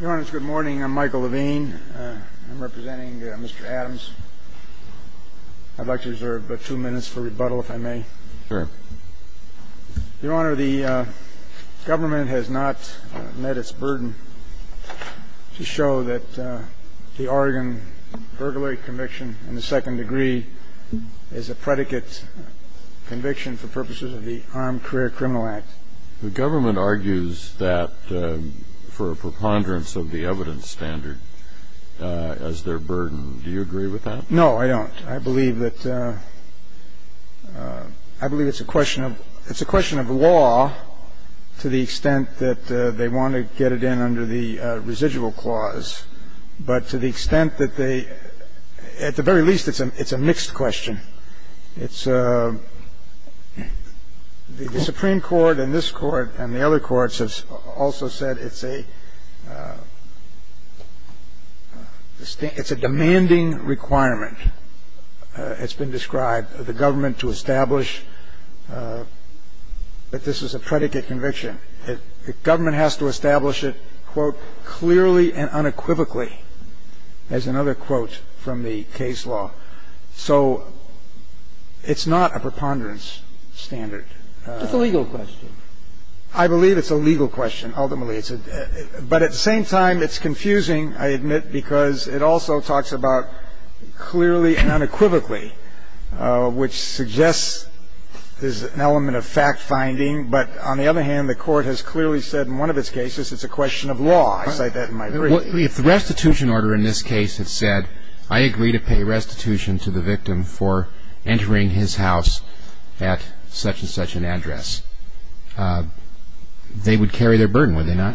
Your Honor, it's a good morning. I'm Michael Levine. I'm representing Mr. Adams. I'd like to reserve two minutes for rebuttal, if I may. Sure. Your Honor, the government has not met its burden to show that the Oregon burglary conviction in the second degree is a predicate conviction for purposes of the Armed Career Criminal Act. The government argues that for a preponderance of the evidence standard as their burden. Do you agree with that? No, I don't. I believe that it's a question of law to the extent that they want to get it in under the residual clause, but to the extent that they at the very least it's a mixed question. The Supreme Court and this Court and the other courts have also said it's a demanding requirement. It's been described, the government to establish that this is a predicate conviction. The government has to establish it, quote, clearly and unequivocally, as another quote from the case law. So it's not a preponderance standard. It's a legal question. I believe it's a legal question, ultimately. But at the same time, it's confusing, I admit, because it also talks about clearly and unequivocally, which suggests there's an element of fact-finding. But on the other hand, the Court has clearly said in one of its cases it's a question of law. I cite that in my brief. If the restitution order in this case had said, I agree to pay restitution to the victim for entering his house at such-and-such an address, they would carry their burden, would they not?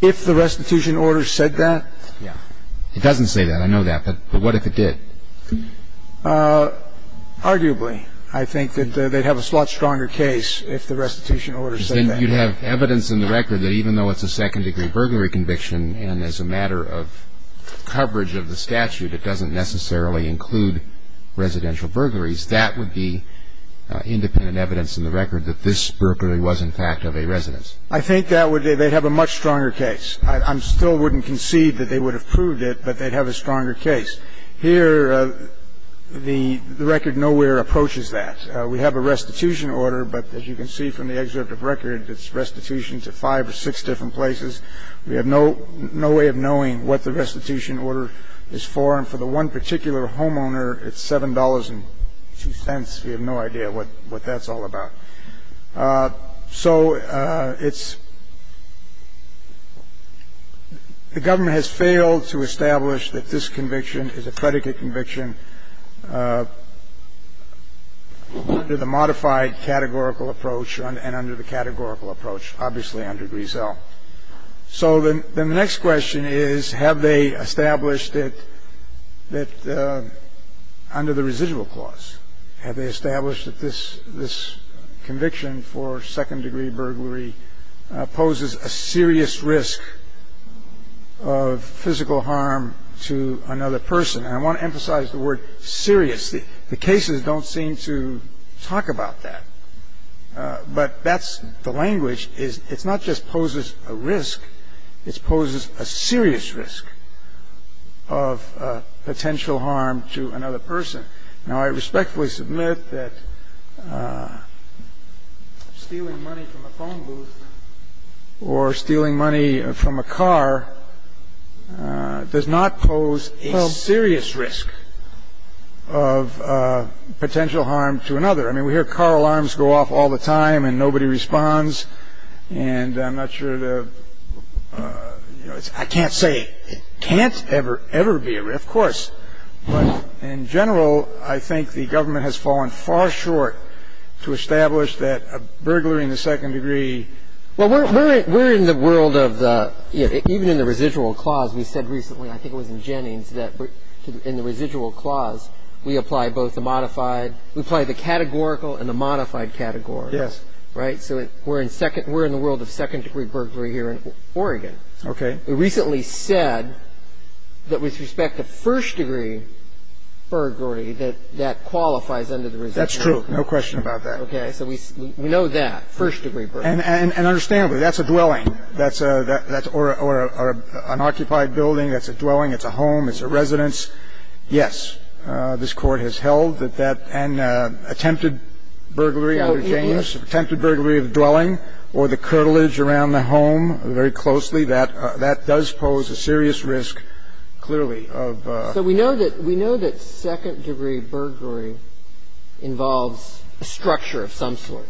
If the restitution order said that? Yeah. It doesn't say that. I know that. But what if it did? Arguably, I think that they'd have a lot stronger case if the restitution order said that. You'd have evidence in the record that even though it's a second-degree burglary conviction and as a matter of coverage of the statute, it doesn't necessarily include residential burglaries, that would be independent evidence in the record that this burglary was, in fact, of a residence. I think that would be they'd have a much stronger case. I still wouldn't concede that they would have proved it, but they'd have a stronger Here, the record nowhere approaches that. We have a restitution order, but as you can see from the excerpt of record, it's restitution to five or six different places. We have no way of knowing what the restitution order is for. And for the one particular homeowner, it's $7.02. We have no idea what that's all about. So it's the government has failed to establish that this conviction is a predicate conviction under the modified categorical approach and under the categorical approach, obviously under Grisel. So then the next question is, have they established that under the residual clause, have they established that this conviction for second-degree burglary poses a serious risk of physical harm to another person? And I want to emphasize the word serious. The cases don't seem to talk about that. But that's the language. It's not just poses a risk. It poses a serious risk of potential harm to another person. Now, I respectfully submit that stealing money from a phone booth or stealing money from a car does not pose a serious risk of potential harm to another. I mean, we hear car alarms go off all the time, and nobody responds. And I'm not sure to, you know, I can't say it can't ever, ever be a risk. Of course. But in general, I think the government has fallen far short to establish that a burglary in the second degree. Well, we're in the world of the, even in the residual clause, we said recently, I think it was in Jennings, that in the residual clause, we apply both the modified, we apply the categorical and the modified categories. Yes. Right? So we're in the world of second-degree burglary here in Oregon. Okay. We recently said that with respect to first-degree burglary, that that qualifies under the residual clause. That's true. No question about that. Okay. So we know that, first-degree burglary. And understandably, that's a dwelling. That's a or an occupied building. That's a dwelling. It's a home. It's a residence. Yes. This Court has held that an attempted burglary under Jennings, attempted burglary of dwelling or the curtilage around the home very closely, that does pose a serious risk, clearly, of ---- So we know that second-degree burglary involves a structure of some sort.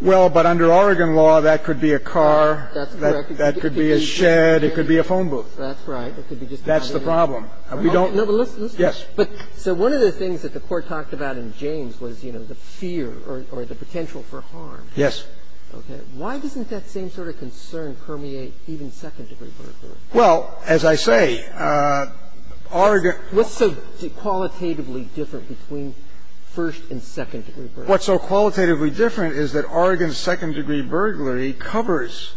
Well, but under Oregon law, that could be a car. That's correct. That could be a shed. It could be a phone booth. That's right. It could be just a house. That's the problem. We don't ---- No, but listen. Yes. So one of the things that the Court talked about in Jennings was, you know, the fear or the potential for harm. Yes. Okay. Why doesn't that same sort of concern permeate even second-degree burglary? Well, as I say, Oregon ---- What's so qualitatively different between first- and second-degree burglary? What's so qualitatively different is that Oregon's second-degree burglary covers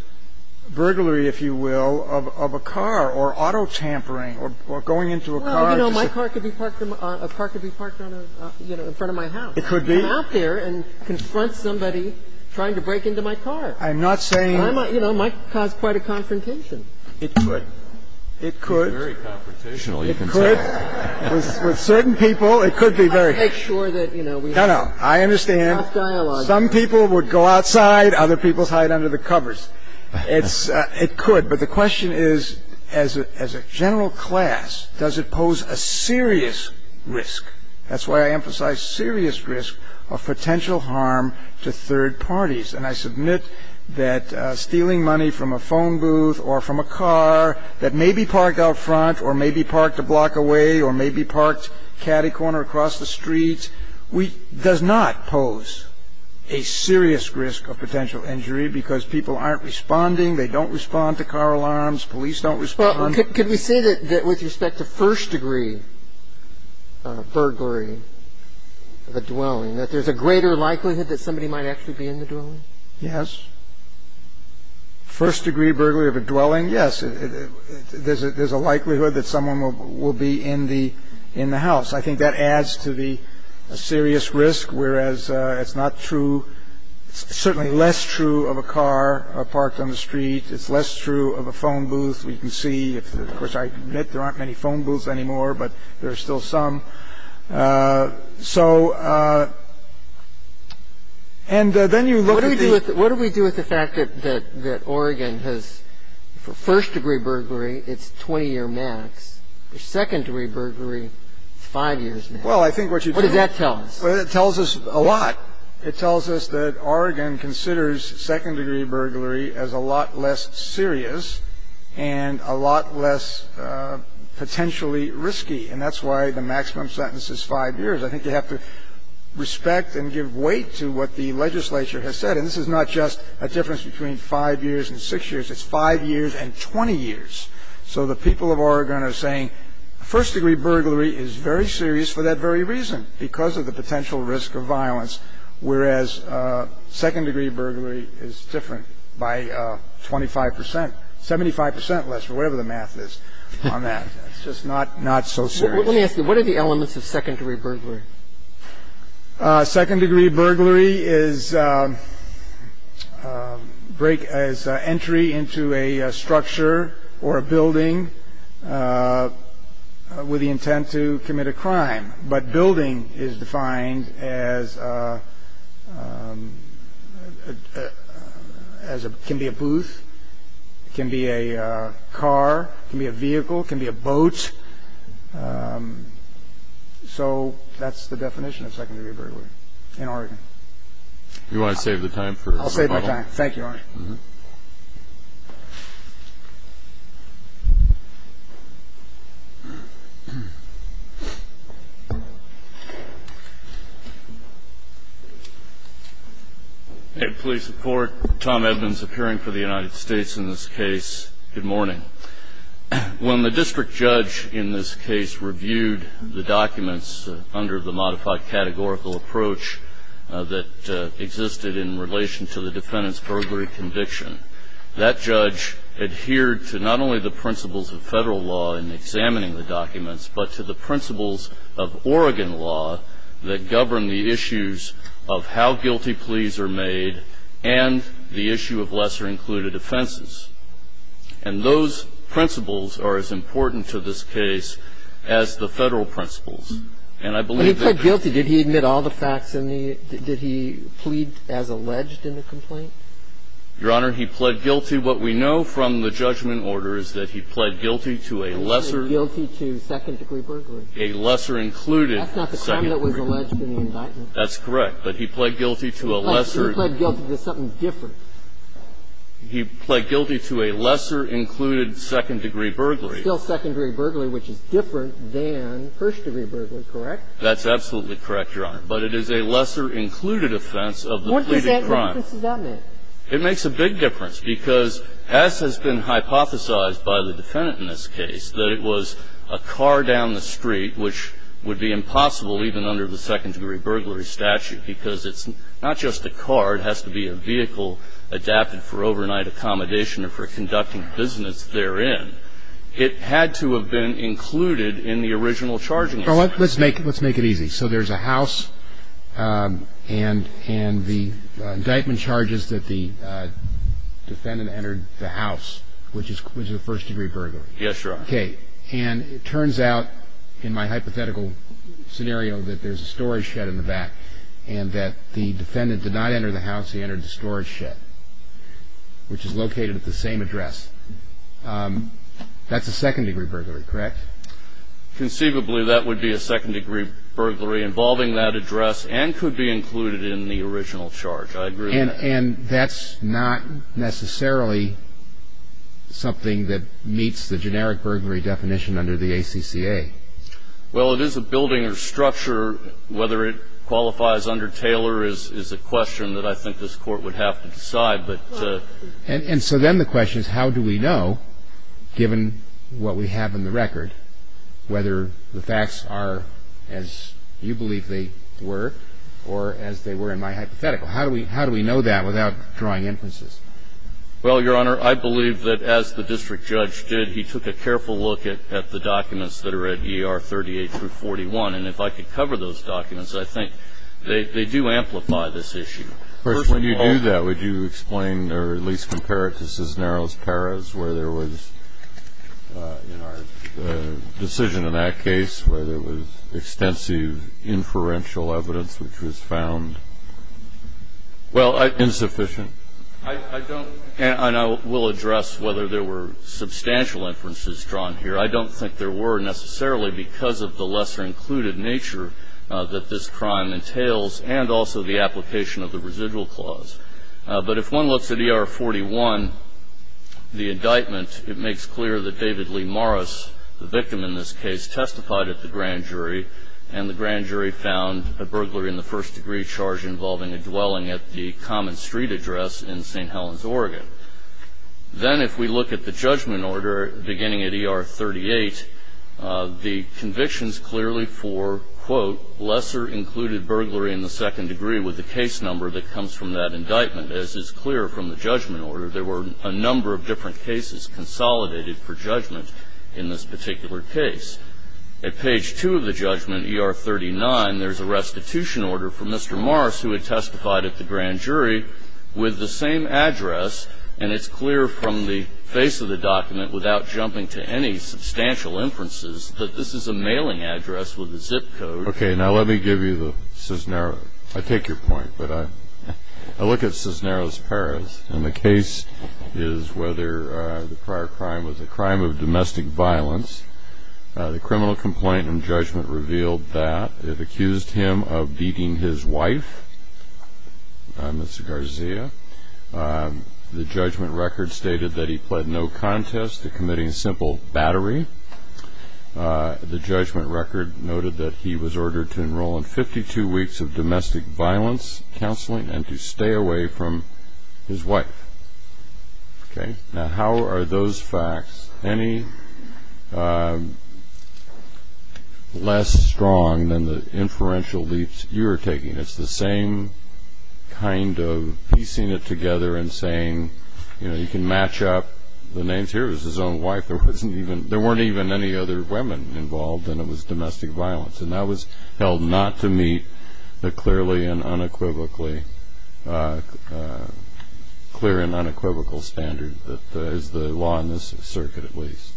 burglary, if you will, of a car or auto tampering or going into a car to ---- Well, you know, my car could be parked on a ---- a car could be parked on a, you know, in front of my house. It could be. I'm out there and confront somebody trying to break into my car. I'm not saying ---- You know, it might cause quite a confrontation. It could. It could. It's very confrontational, you can say. It could. With certain people, it could be very ---- I make sure that, you know, we ---- No, no. I understand. Some people would go outside, other people hide under the covers. It's ---- it could. But the question is, as a general class, does it pose a serious risk? That's why I emphasize serious risk of potential harm to third parties. And I submit that stealing money from a phone booth or from a car that may be parked out front or may be parked a block away or may be parked catty corner across the street, we ---- does not pose a serious risk of potential injury because people aren't responding. They don't respond to car alarms. Police don't respond. Well, could we say that with respect to first degree burglary of a dwelling, that there's a greater likelihood that somebody might actually be in the dwelling? Yes. First degree burglary of a dwelling, yes. There's a likelihood that someone will be in the house. I think that adds to the serious risk, whereas it's not true ---- certainly less true of a car parked on the street. It's less true of a phone booth. We can see, of course, I admit there aren't many phone booths anymore, but there are still some. So and then you look at the ---- What do we do with the fact that Oregon has, for first degree burglary, it's 20-year max. For second degree burglary, it's 5 years max. Well, I think what you do ---- What does that tell us? Well, it tells us a lot. It tells us that Oregon considers second degree burglary as a lot less serious and a lot less potentially risky. And that's why the maximum sentence is 5 years. I think you have to respect and give weight to what the legislature has said. And this is not just a difference between 5 years and 6 years. It's 5 years and 20 years. So the people of Oregon are saying first degree burglary is very serious for that very reason, because of the potential risk of violence, whereas second degree burglary is different by 25 percent, 75 percent less, or whatever the math is on that. It's just not so serious. Let me ask you. What are the elements of second degree burglary? Second degree burglary is break as entry into a structure or a building with the intent to commit a crime. But building is defined as it can be a booth, it can be a car, it can be a vehicle, it can be a boat. So that's the definition of second degree burglary in Oregon. Do you want to save the time? I'll save my time. Thank you, Your Honor. Thank you, Your Honor. Police support. Tom Evans, appearing for the United States in this case. Good morning. When the district judge in this case reviewed the documents under the modified categorical approach that existed in relation to the defendant's burglary conviction, that judge adhered to not only the principles of Federal law in examining the documents, but to the principles of Oregon law that govern the issues of how guilty pleas are made and the issue of lesser included offenses. And those principles are as important to this case as the Federal principles. And I believe that the ---- Well, he pled guilty. Did he admit all the facts and the ---- did he plead as alleged in the complaint? Your Honor, he pled guilty. What we know from the judgment order is that he pled guilty to a lesser ---- He pled guilty to second degree burglary. A lesser included second degree burglary. That's not the crime that was alleged in the indictment. That's correct. But he pled guilty to a lesser ---- He pled guilty to something different. He pled guilty to a lesser included second degree burglary. Still second degree burglary, which is different than first degree burglary, correct? That's absolutely correct, Your Honor. But it is a lesser included offense of the pleaded crime. What does that make? What does that make? It makes a big difference because as has been hypothesized by the defendant in this case, that it was a car down the street, which would be impossible even under the second degree burglary statute, because it's not just a car. It has to be a vehicle adapted for overnight accommodation or for conducting business therein. It had to have been included in the original charging. Let's make it easy. So there's a house and the indictment charges that the defendant entered the house, which is a first degree burglary. Yes, Your Honor. Okay. And it turns out in my hypothetical scenario that there's a storage shed in the back and that the defendant did not enter the house. He entered the storage shed, which is located at the same address. That's a second degree burglary, correct? Conceivably, that would be a second degree burglary involving that address and could be included in the original charge. I agree with that. And that's not necessarily something that meets the generic burglary definition under the ACCA? Well, it is a building or structure. Whether it qualifies under Taylor is a question that I think this Court would have to decide. And so then the question is how do we know, given what we have in the record, whether the facts are as you believe they were or as they were in my hypothetical? How do we know that without drawing inferences? Well, Your Honor, I believe that as the district judge did, he took a careful look at the documents that are at ER 38-41. And if I could cover those documents, I think they do amplify this issue. First, when you do that, would you explain or at least compare it to Cisneros-Perez where there was, in our decision in that case, where there was extensive inferential evidence which was found insufficient? I don't, and I will address whether there were substantial inferences drawn here. I don't think there were necessarily because of the lesser included nature that this crime entails and also the application of the residual clause. But if one looks at ER-41, the indictment, it makes clear that David Lee Morris, the victim in this case, testified at the grand jury, and the grand jury found a burglary in the first degree charge involving a dwelling at the Common Street address in St. Helens, Oregon. Then if we look at the judgment order beginning at ER-38, the convictions clearly for, quote, lesser included burglary in the second degree with the case number that comes from that indictment. As is clear from the judgment order, there were a number of different cases consolidated for judgment in this particular case. At page 2 of the judgment, ER-39, there's a restitution order from Mr. Morris who had testified at the grand jury with the same address. And it's clear from the face of the document without jumping to any substantial inferences that this is a mailing address with a zip code. Okay, now let me give you the Cisneros. I take your point, but I look at Cisneros Perez, and the case is whether the prior crime was a crime of domestic violence. The criminal complaint and judgment revealed that it accused him of beating his wife, Mr. Garcia. The judgment record stated that he pled no contest to committing simple battery. The judgment record noted that he was ordered to enroll in 52 weeks of domestic violence counseling and to stay away from his wife. Okay, now how are those facts any less strong than the inferential leaps you are taking? It's the same kind of piecing it together and saying, you know, you can match up the names. Here was his own wife. There weren't even any other women involved, and it was domestic violence. And that was held not to meet the clear and unequivocal standard that is the law in this circuit at least.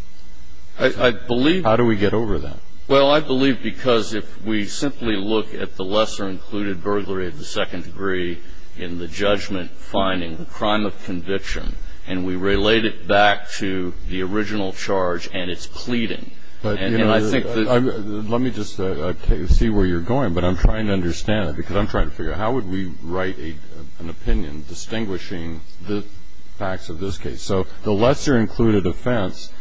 How do we get over that? Well, I believe because if we simply look at the lesser-included burglary of the second degree in the judgment finding, the crime of conviction, and we relate it back to the original charge and its pleading. Let me just see where you're going, but I'm trying to understand it, because I'm trying to figure out how would we write an opinion distinguishing the facts of this case. So the lesser-included offense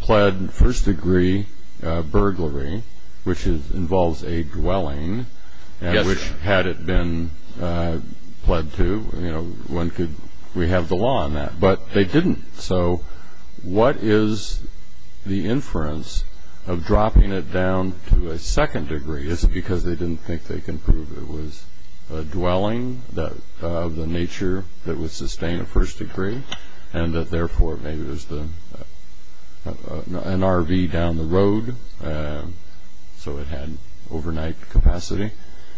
pled first degree burglary, which involves a dwelling, which had it been pled to, you know, we have the law on that, but they didn't. So what is the inference of dropping it down to a second degree? Is it because they didn't think they can prove it was a dwelling of the nature that would sustain a first degree and that, therefore, maybe it was an RV down the road, so it had overnight capacity?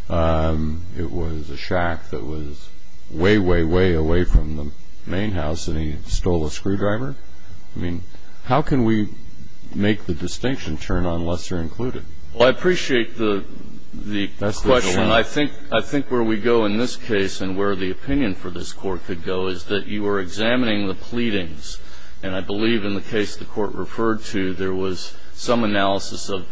It was a shack that was way, way, way away from the main house, and he stole a screwdriver? I mean, how can we make the distinction turn on lesser-included? Well, I appreciate the question. I think where we go in this case and where the opinion for this court could go is that you were examining the pleadings. And I believe in the case the Court referred to, there was some analysis of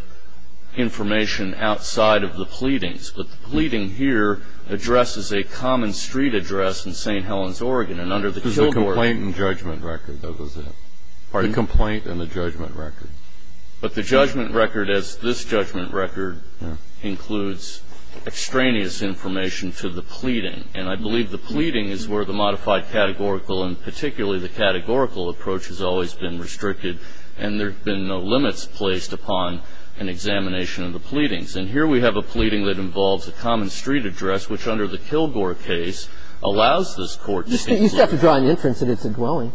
information outside of the pleadings. But the pleading here addresses a common street address in St. Helens, Oregon. And under the Kilgore ---- It was the complaint and judgment record, though, wasn't it? Pardon? The complaint and the judgment record. But the judgment record, as this judgment record includes extraneous information to the pleading. And I believe the pleading is where the modified categorical and particularly the categorical approach has always been restricted. And there have been no limits placed upon an examination of the pleadings. And here we have a pleading that involves a common street address, which under the Kilgore case allows this Court to ---- You still have to draw an inference that it's a dwelling.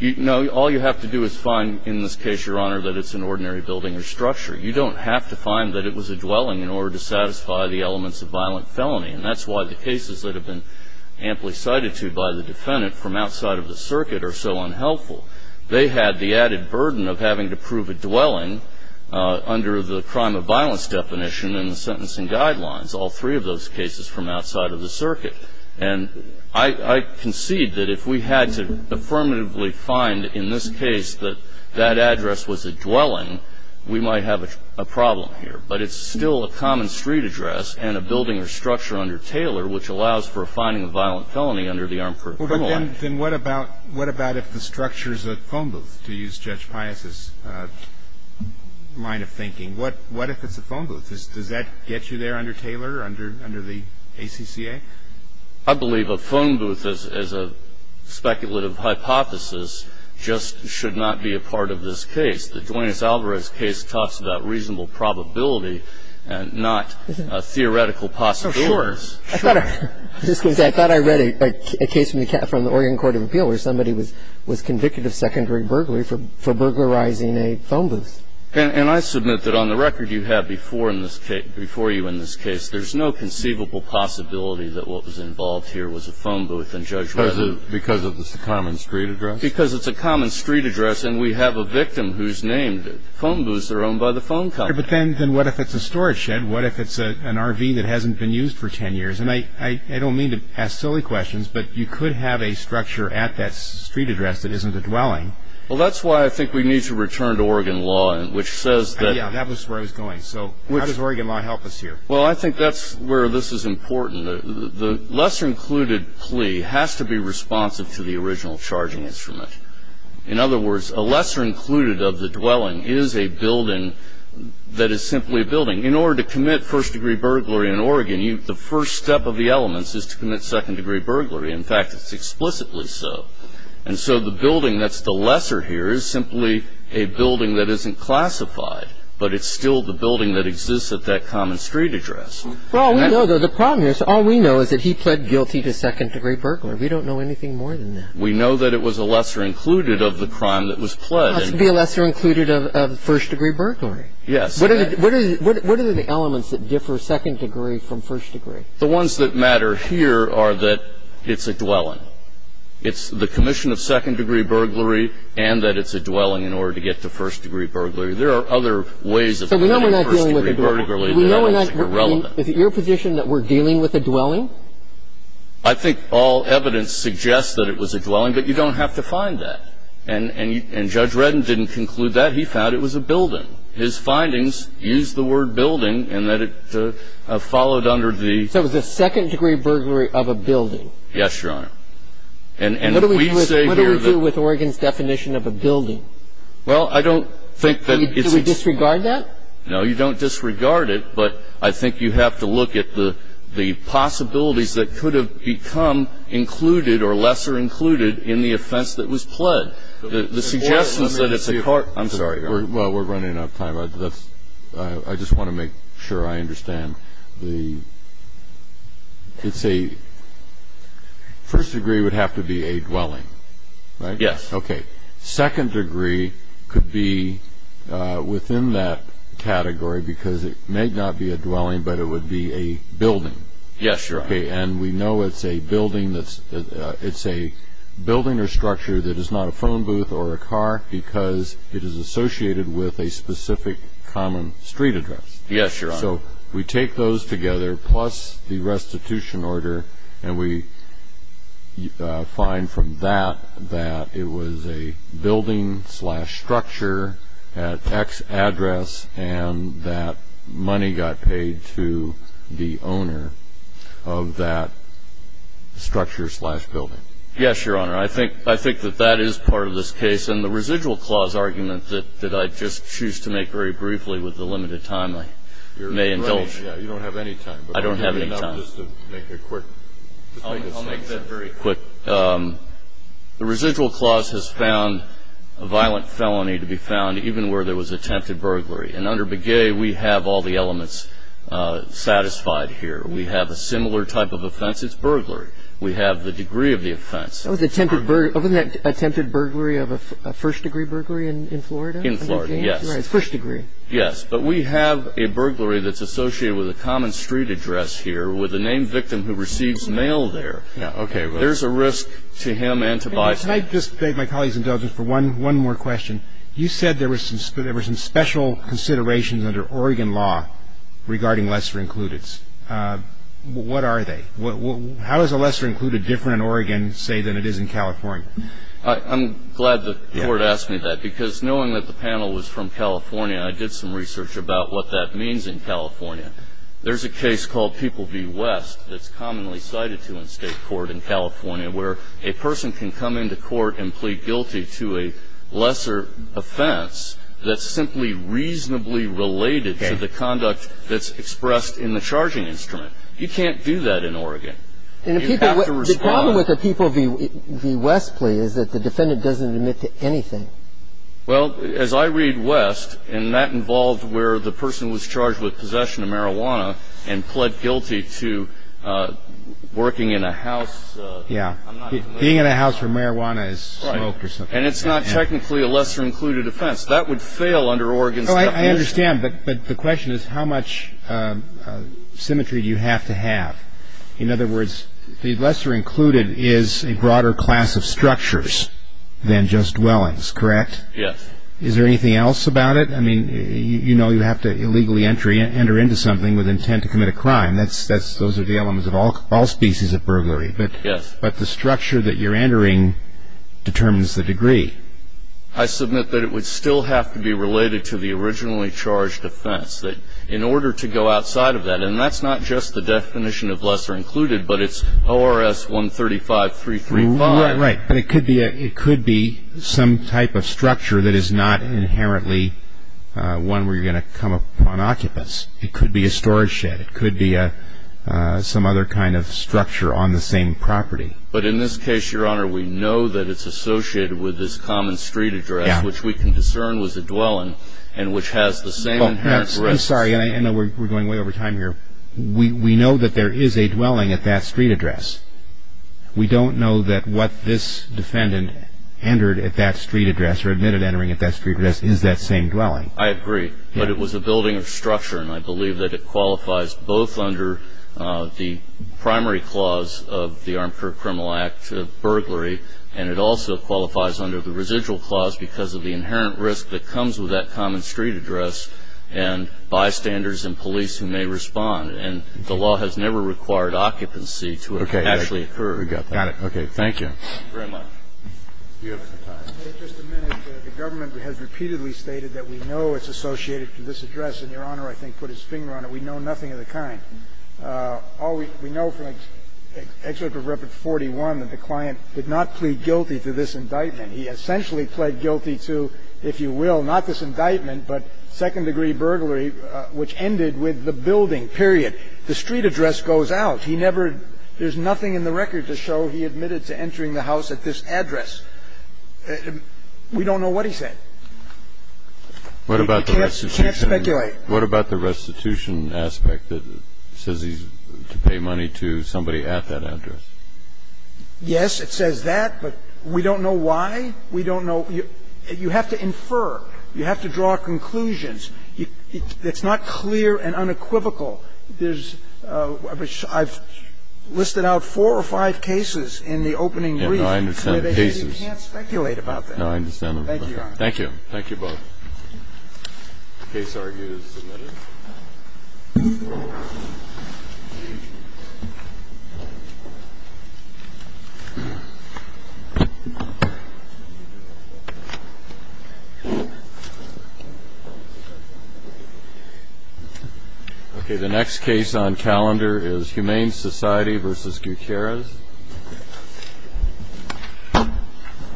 No. All you have to do is find in this case, Your Honor, that it's an ordinary building or structure. You don't have to find that it was a dwelling in order to satisfy the elements of violent felony. And that's why the cases that have been amply cited to by the defendant from outside of the circuit are so unhelpful. They had the added burden of having to prove a dwelling under the crime of violence definition and the sentencing guidelines, all three of those cases from outside of the circuit. And I concede that if we had to affirmatively find in this case that that address was a dwelling, we might have a problem here. But it's still a common street address and a building or structure under Taylor which allows for a finding of violent felony under the Armed Perpetrator Act. But then what about if the structure is a phone booth, to use Judge Pius' line of thinking? What if it's a phone booth? Does that get you there under Taylor, under the ACCA? I believe a phone booth, as a speculative hypothesis, just should not be a part of this case. The Duane S. Alvarez case talks about reasonable probability and not theoretical possibilities. Oh, sure. I thought I read a case from the Oregon Court of Appeal where somebody was convicted of secondary burglary for burglarizing a phone booth. And I submit that on the record you have before you in this case, there's no conceivable possibility that what was involved here was a phone booth in Judge Reza. Because it's a common street address? Because it's a common street address and we have a victim who's named. Phone booths are owned by the phone company. But then what if it's a storage shed? What if it's an RV that hasn't been used for 10 years? And I don't mean to ask silly questions, but you could have a structure at that street address that isn't a dwelling. Well, that's why I think we need to return to Oregon law, which says that- Yeah, that was where I was going. So how does Oregon law help us here? Well, I think that's where this is important. The lesser included plea has to be responsive to the original charging instrument. In other words, a lesser included of the dwelling is a building that is simply a building. In order to commit first degree burglary in Oregon, the first step of the elements is to commit second degree burglary. In fact, it's explicitly so. And so the building that's the lesser here is simply a building that isn't classified, but it's still the building that exists at that common street address. Well, we know that the problem here is all we know is that he pled guilty to second degree burglary. We don't know anything more than that. We know that it was a lesser included of the crime that was pled. It has to be a lesser included of first degree burglary. Yes. What are the elements that differ second degree from first degree? The ones that matter here are that it's a dwelling. It's the commission of second degree burglary and that it's a dwelling in order to get to first degree burglary. There are other ways of committing first degree burglary that I don't think are relevant. Is it your position that we're dealing with a dwelling? I think all evidence suggests that it was a dwelling, but you don't have to find that. And Judge Redden didn't conclude that. He found it was a building. His findings use the word building and that it followed under the ---- So it was a second degree burglary of a building. Yes, Your Honor. And we say here that ---- What do we do with Oregon's definition of a building? Well, I don't think that it's ---- Do we disregard that? No, you don't disregard it, but I think you have to look at the possibilities that could have become included or lesser included in the offense that was pled. The suggestions that it's a ---- I'm sorry, Your Honor. Well, we're running out of time. I just want to make sure I understand. The ---- It's a ---- First degree would have to be a dwelling, right? Yes. Okay. The second degree could be within that category because it may not be a dwelling, but it would be a building. Yes, Your Honor. Okay. And we know it's a building that's ---- It's a building or structure that is not a phone booth or a car because it is associated with a specific common street address. Yes, Your Honor. So we take those together plus the restitution order, and we find from that that it was a building slash structure at X address and that money got paid to the owner of that structure slash building. Yes, Your Honor. I think that that is part of this case, and the residual clause argument that I just choose to make very briefly with the limited time I may indulge. You don't have any time. I don't have any time. Just to make it quick. I'll make that very quick. The residual clause has found a violent felony to be found even where there was attempted burglary. And under Begay, we have all the elements satisfied here. We have a similar type of offense. It's burglary. We have the degree of the offense. That was attempted burglary. Wasn't that attempted burglary of a first degree burglary in Florida? In Florida, yes. First degree. Yes. But we have a burglary that's associated with a common street address here with a named victim who receives mail there. Okay. There's a risk to him and to Biden. Can I just beg my colleague's indulgence for one more question? You said there were some special considerations under Oregon law regarding lesser included. What are they? How is a lesser included different in Oregon, say, than it is in California? I'm glad the Court asked me that because knowing that the panel was from California, I did some research about what that means in California. There's a case called People v. West that's commonly cited to in state court in California where a person can come into court and plead guilty to a lesser offense that's simply reasonably related to the conduct that's expressed in the charging instrument. You can't do that in Oregon. You have to respond. The problem with the People v. West plea is that the defendant doesn't admit to anything. Well, as I read West, and that involved where the person was charged with possession of marijuana and pled guilty to working in a house. Yeah. Being in a house where marijuana is smoked or something. And it's not technically a lesser included offense. That would fail under Oregon's definition. I understand, but the question is how much symmetry do you have to have? In other words, the lesser included is a broader class of structures than just dwellings, correct? Yes. Is there anything else about it? I mean, you know you have to illegally enter into something with intent to commit a crime. Those are the elements of all species of burglary. Yes. But the structure that you're entering determines the degree. I submit that it would still have to be related to the originally charged offense. In order to go outside of that, and that's not just the definition of lesser included, but it's ORS 135-335. Right. But it could be some type of structure that is not inherently one where you're going to come upon occupants. It could be a storage shed. It could be some other kind of structure on the same property. But in this case, Your Honor, we know that it's associated with this common street address, which we can discern was a dwelling and which has the same inherent risks. I'm sorry. I know we're going way over time here. We know that there is a dwelling at that street address. We don't know that what this defendant entered at that street address or admitted entering at that street address is that same dwelling. I agree. But it was a building of structure, and I believe that it qualifies both under the primary clause of the Armed Criminal Act of burglary, and it also qualifies under the residual clause because of the inherent risk that comes with that common street address and bystanders and police who may respond. And the law has never required occupancy to actually occur. Okay. Got it. Okay. Thank you. Thank you very much. Do you have some time? Just a minute. The government has repeatedly stated that we know it's associated to this address, and Your Honor, I think, put his finger on it. We know nothing of the kind. All we know from excerpt of Rep. 41 that the client did not plead guilty to this indictment. He essentially pled guilty to, if you will, not this indictment, but second-degree burglary, which ended with the building, period. The street address goes out. He never – there's nothing in the record to show he admitted to entering the house at this address. We don't know what he said. We can't speculate. What about the restitution aspect that says he's to pay money to somebody at that address? Yes, it says that, but we don't know why. We don't know. You have to infer. You have to draw conclusions. It's not clear and unequivocal. There's – I've listed out four or five cases in the opening brief. And I understand the cases. You can't speculate about that. No, I understand. Thank you, Your Honor. Thank you both. The case argued is submitted. Okay, the next case on calendar is Humane Society v. Gutierrez.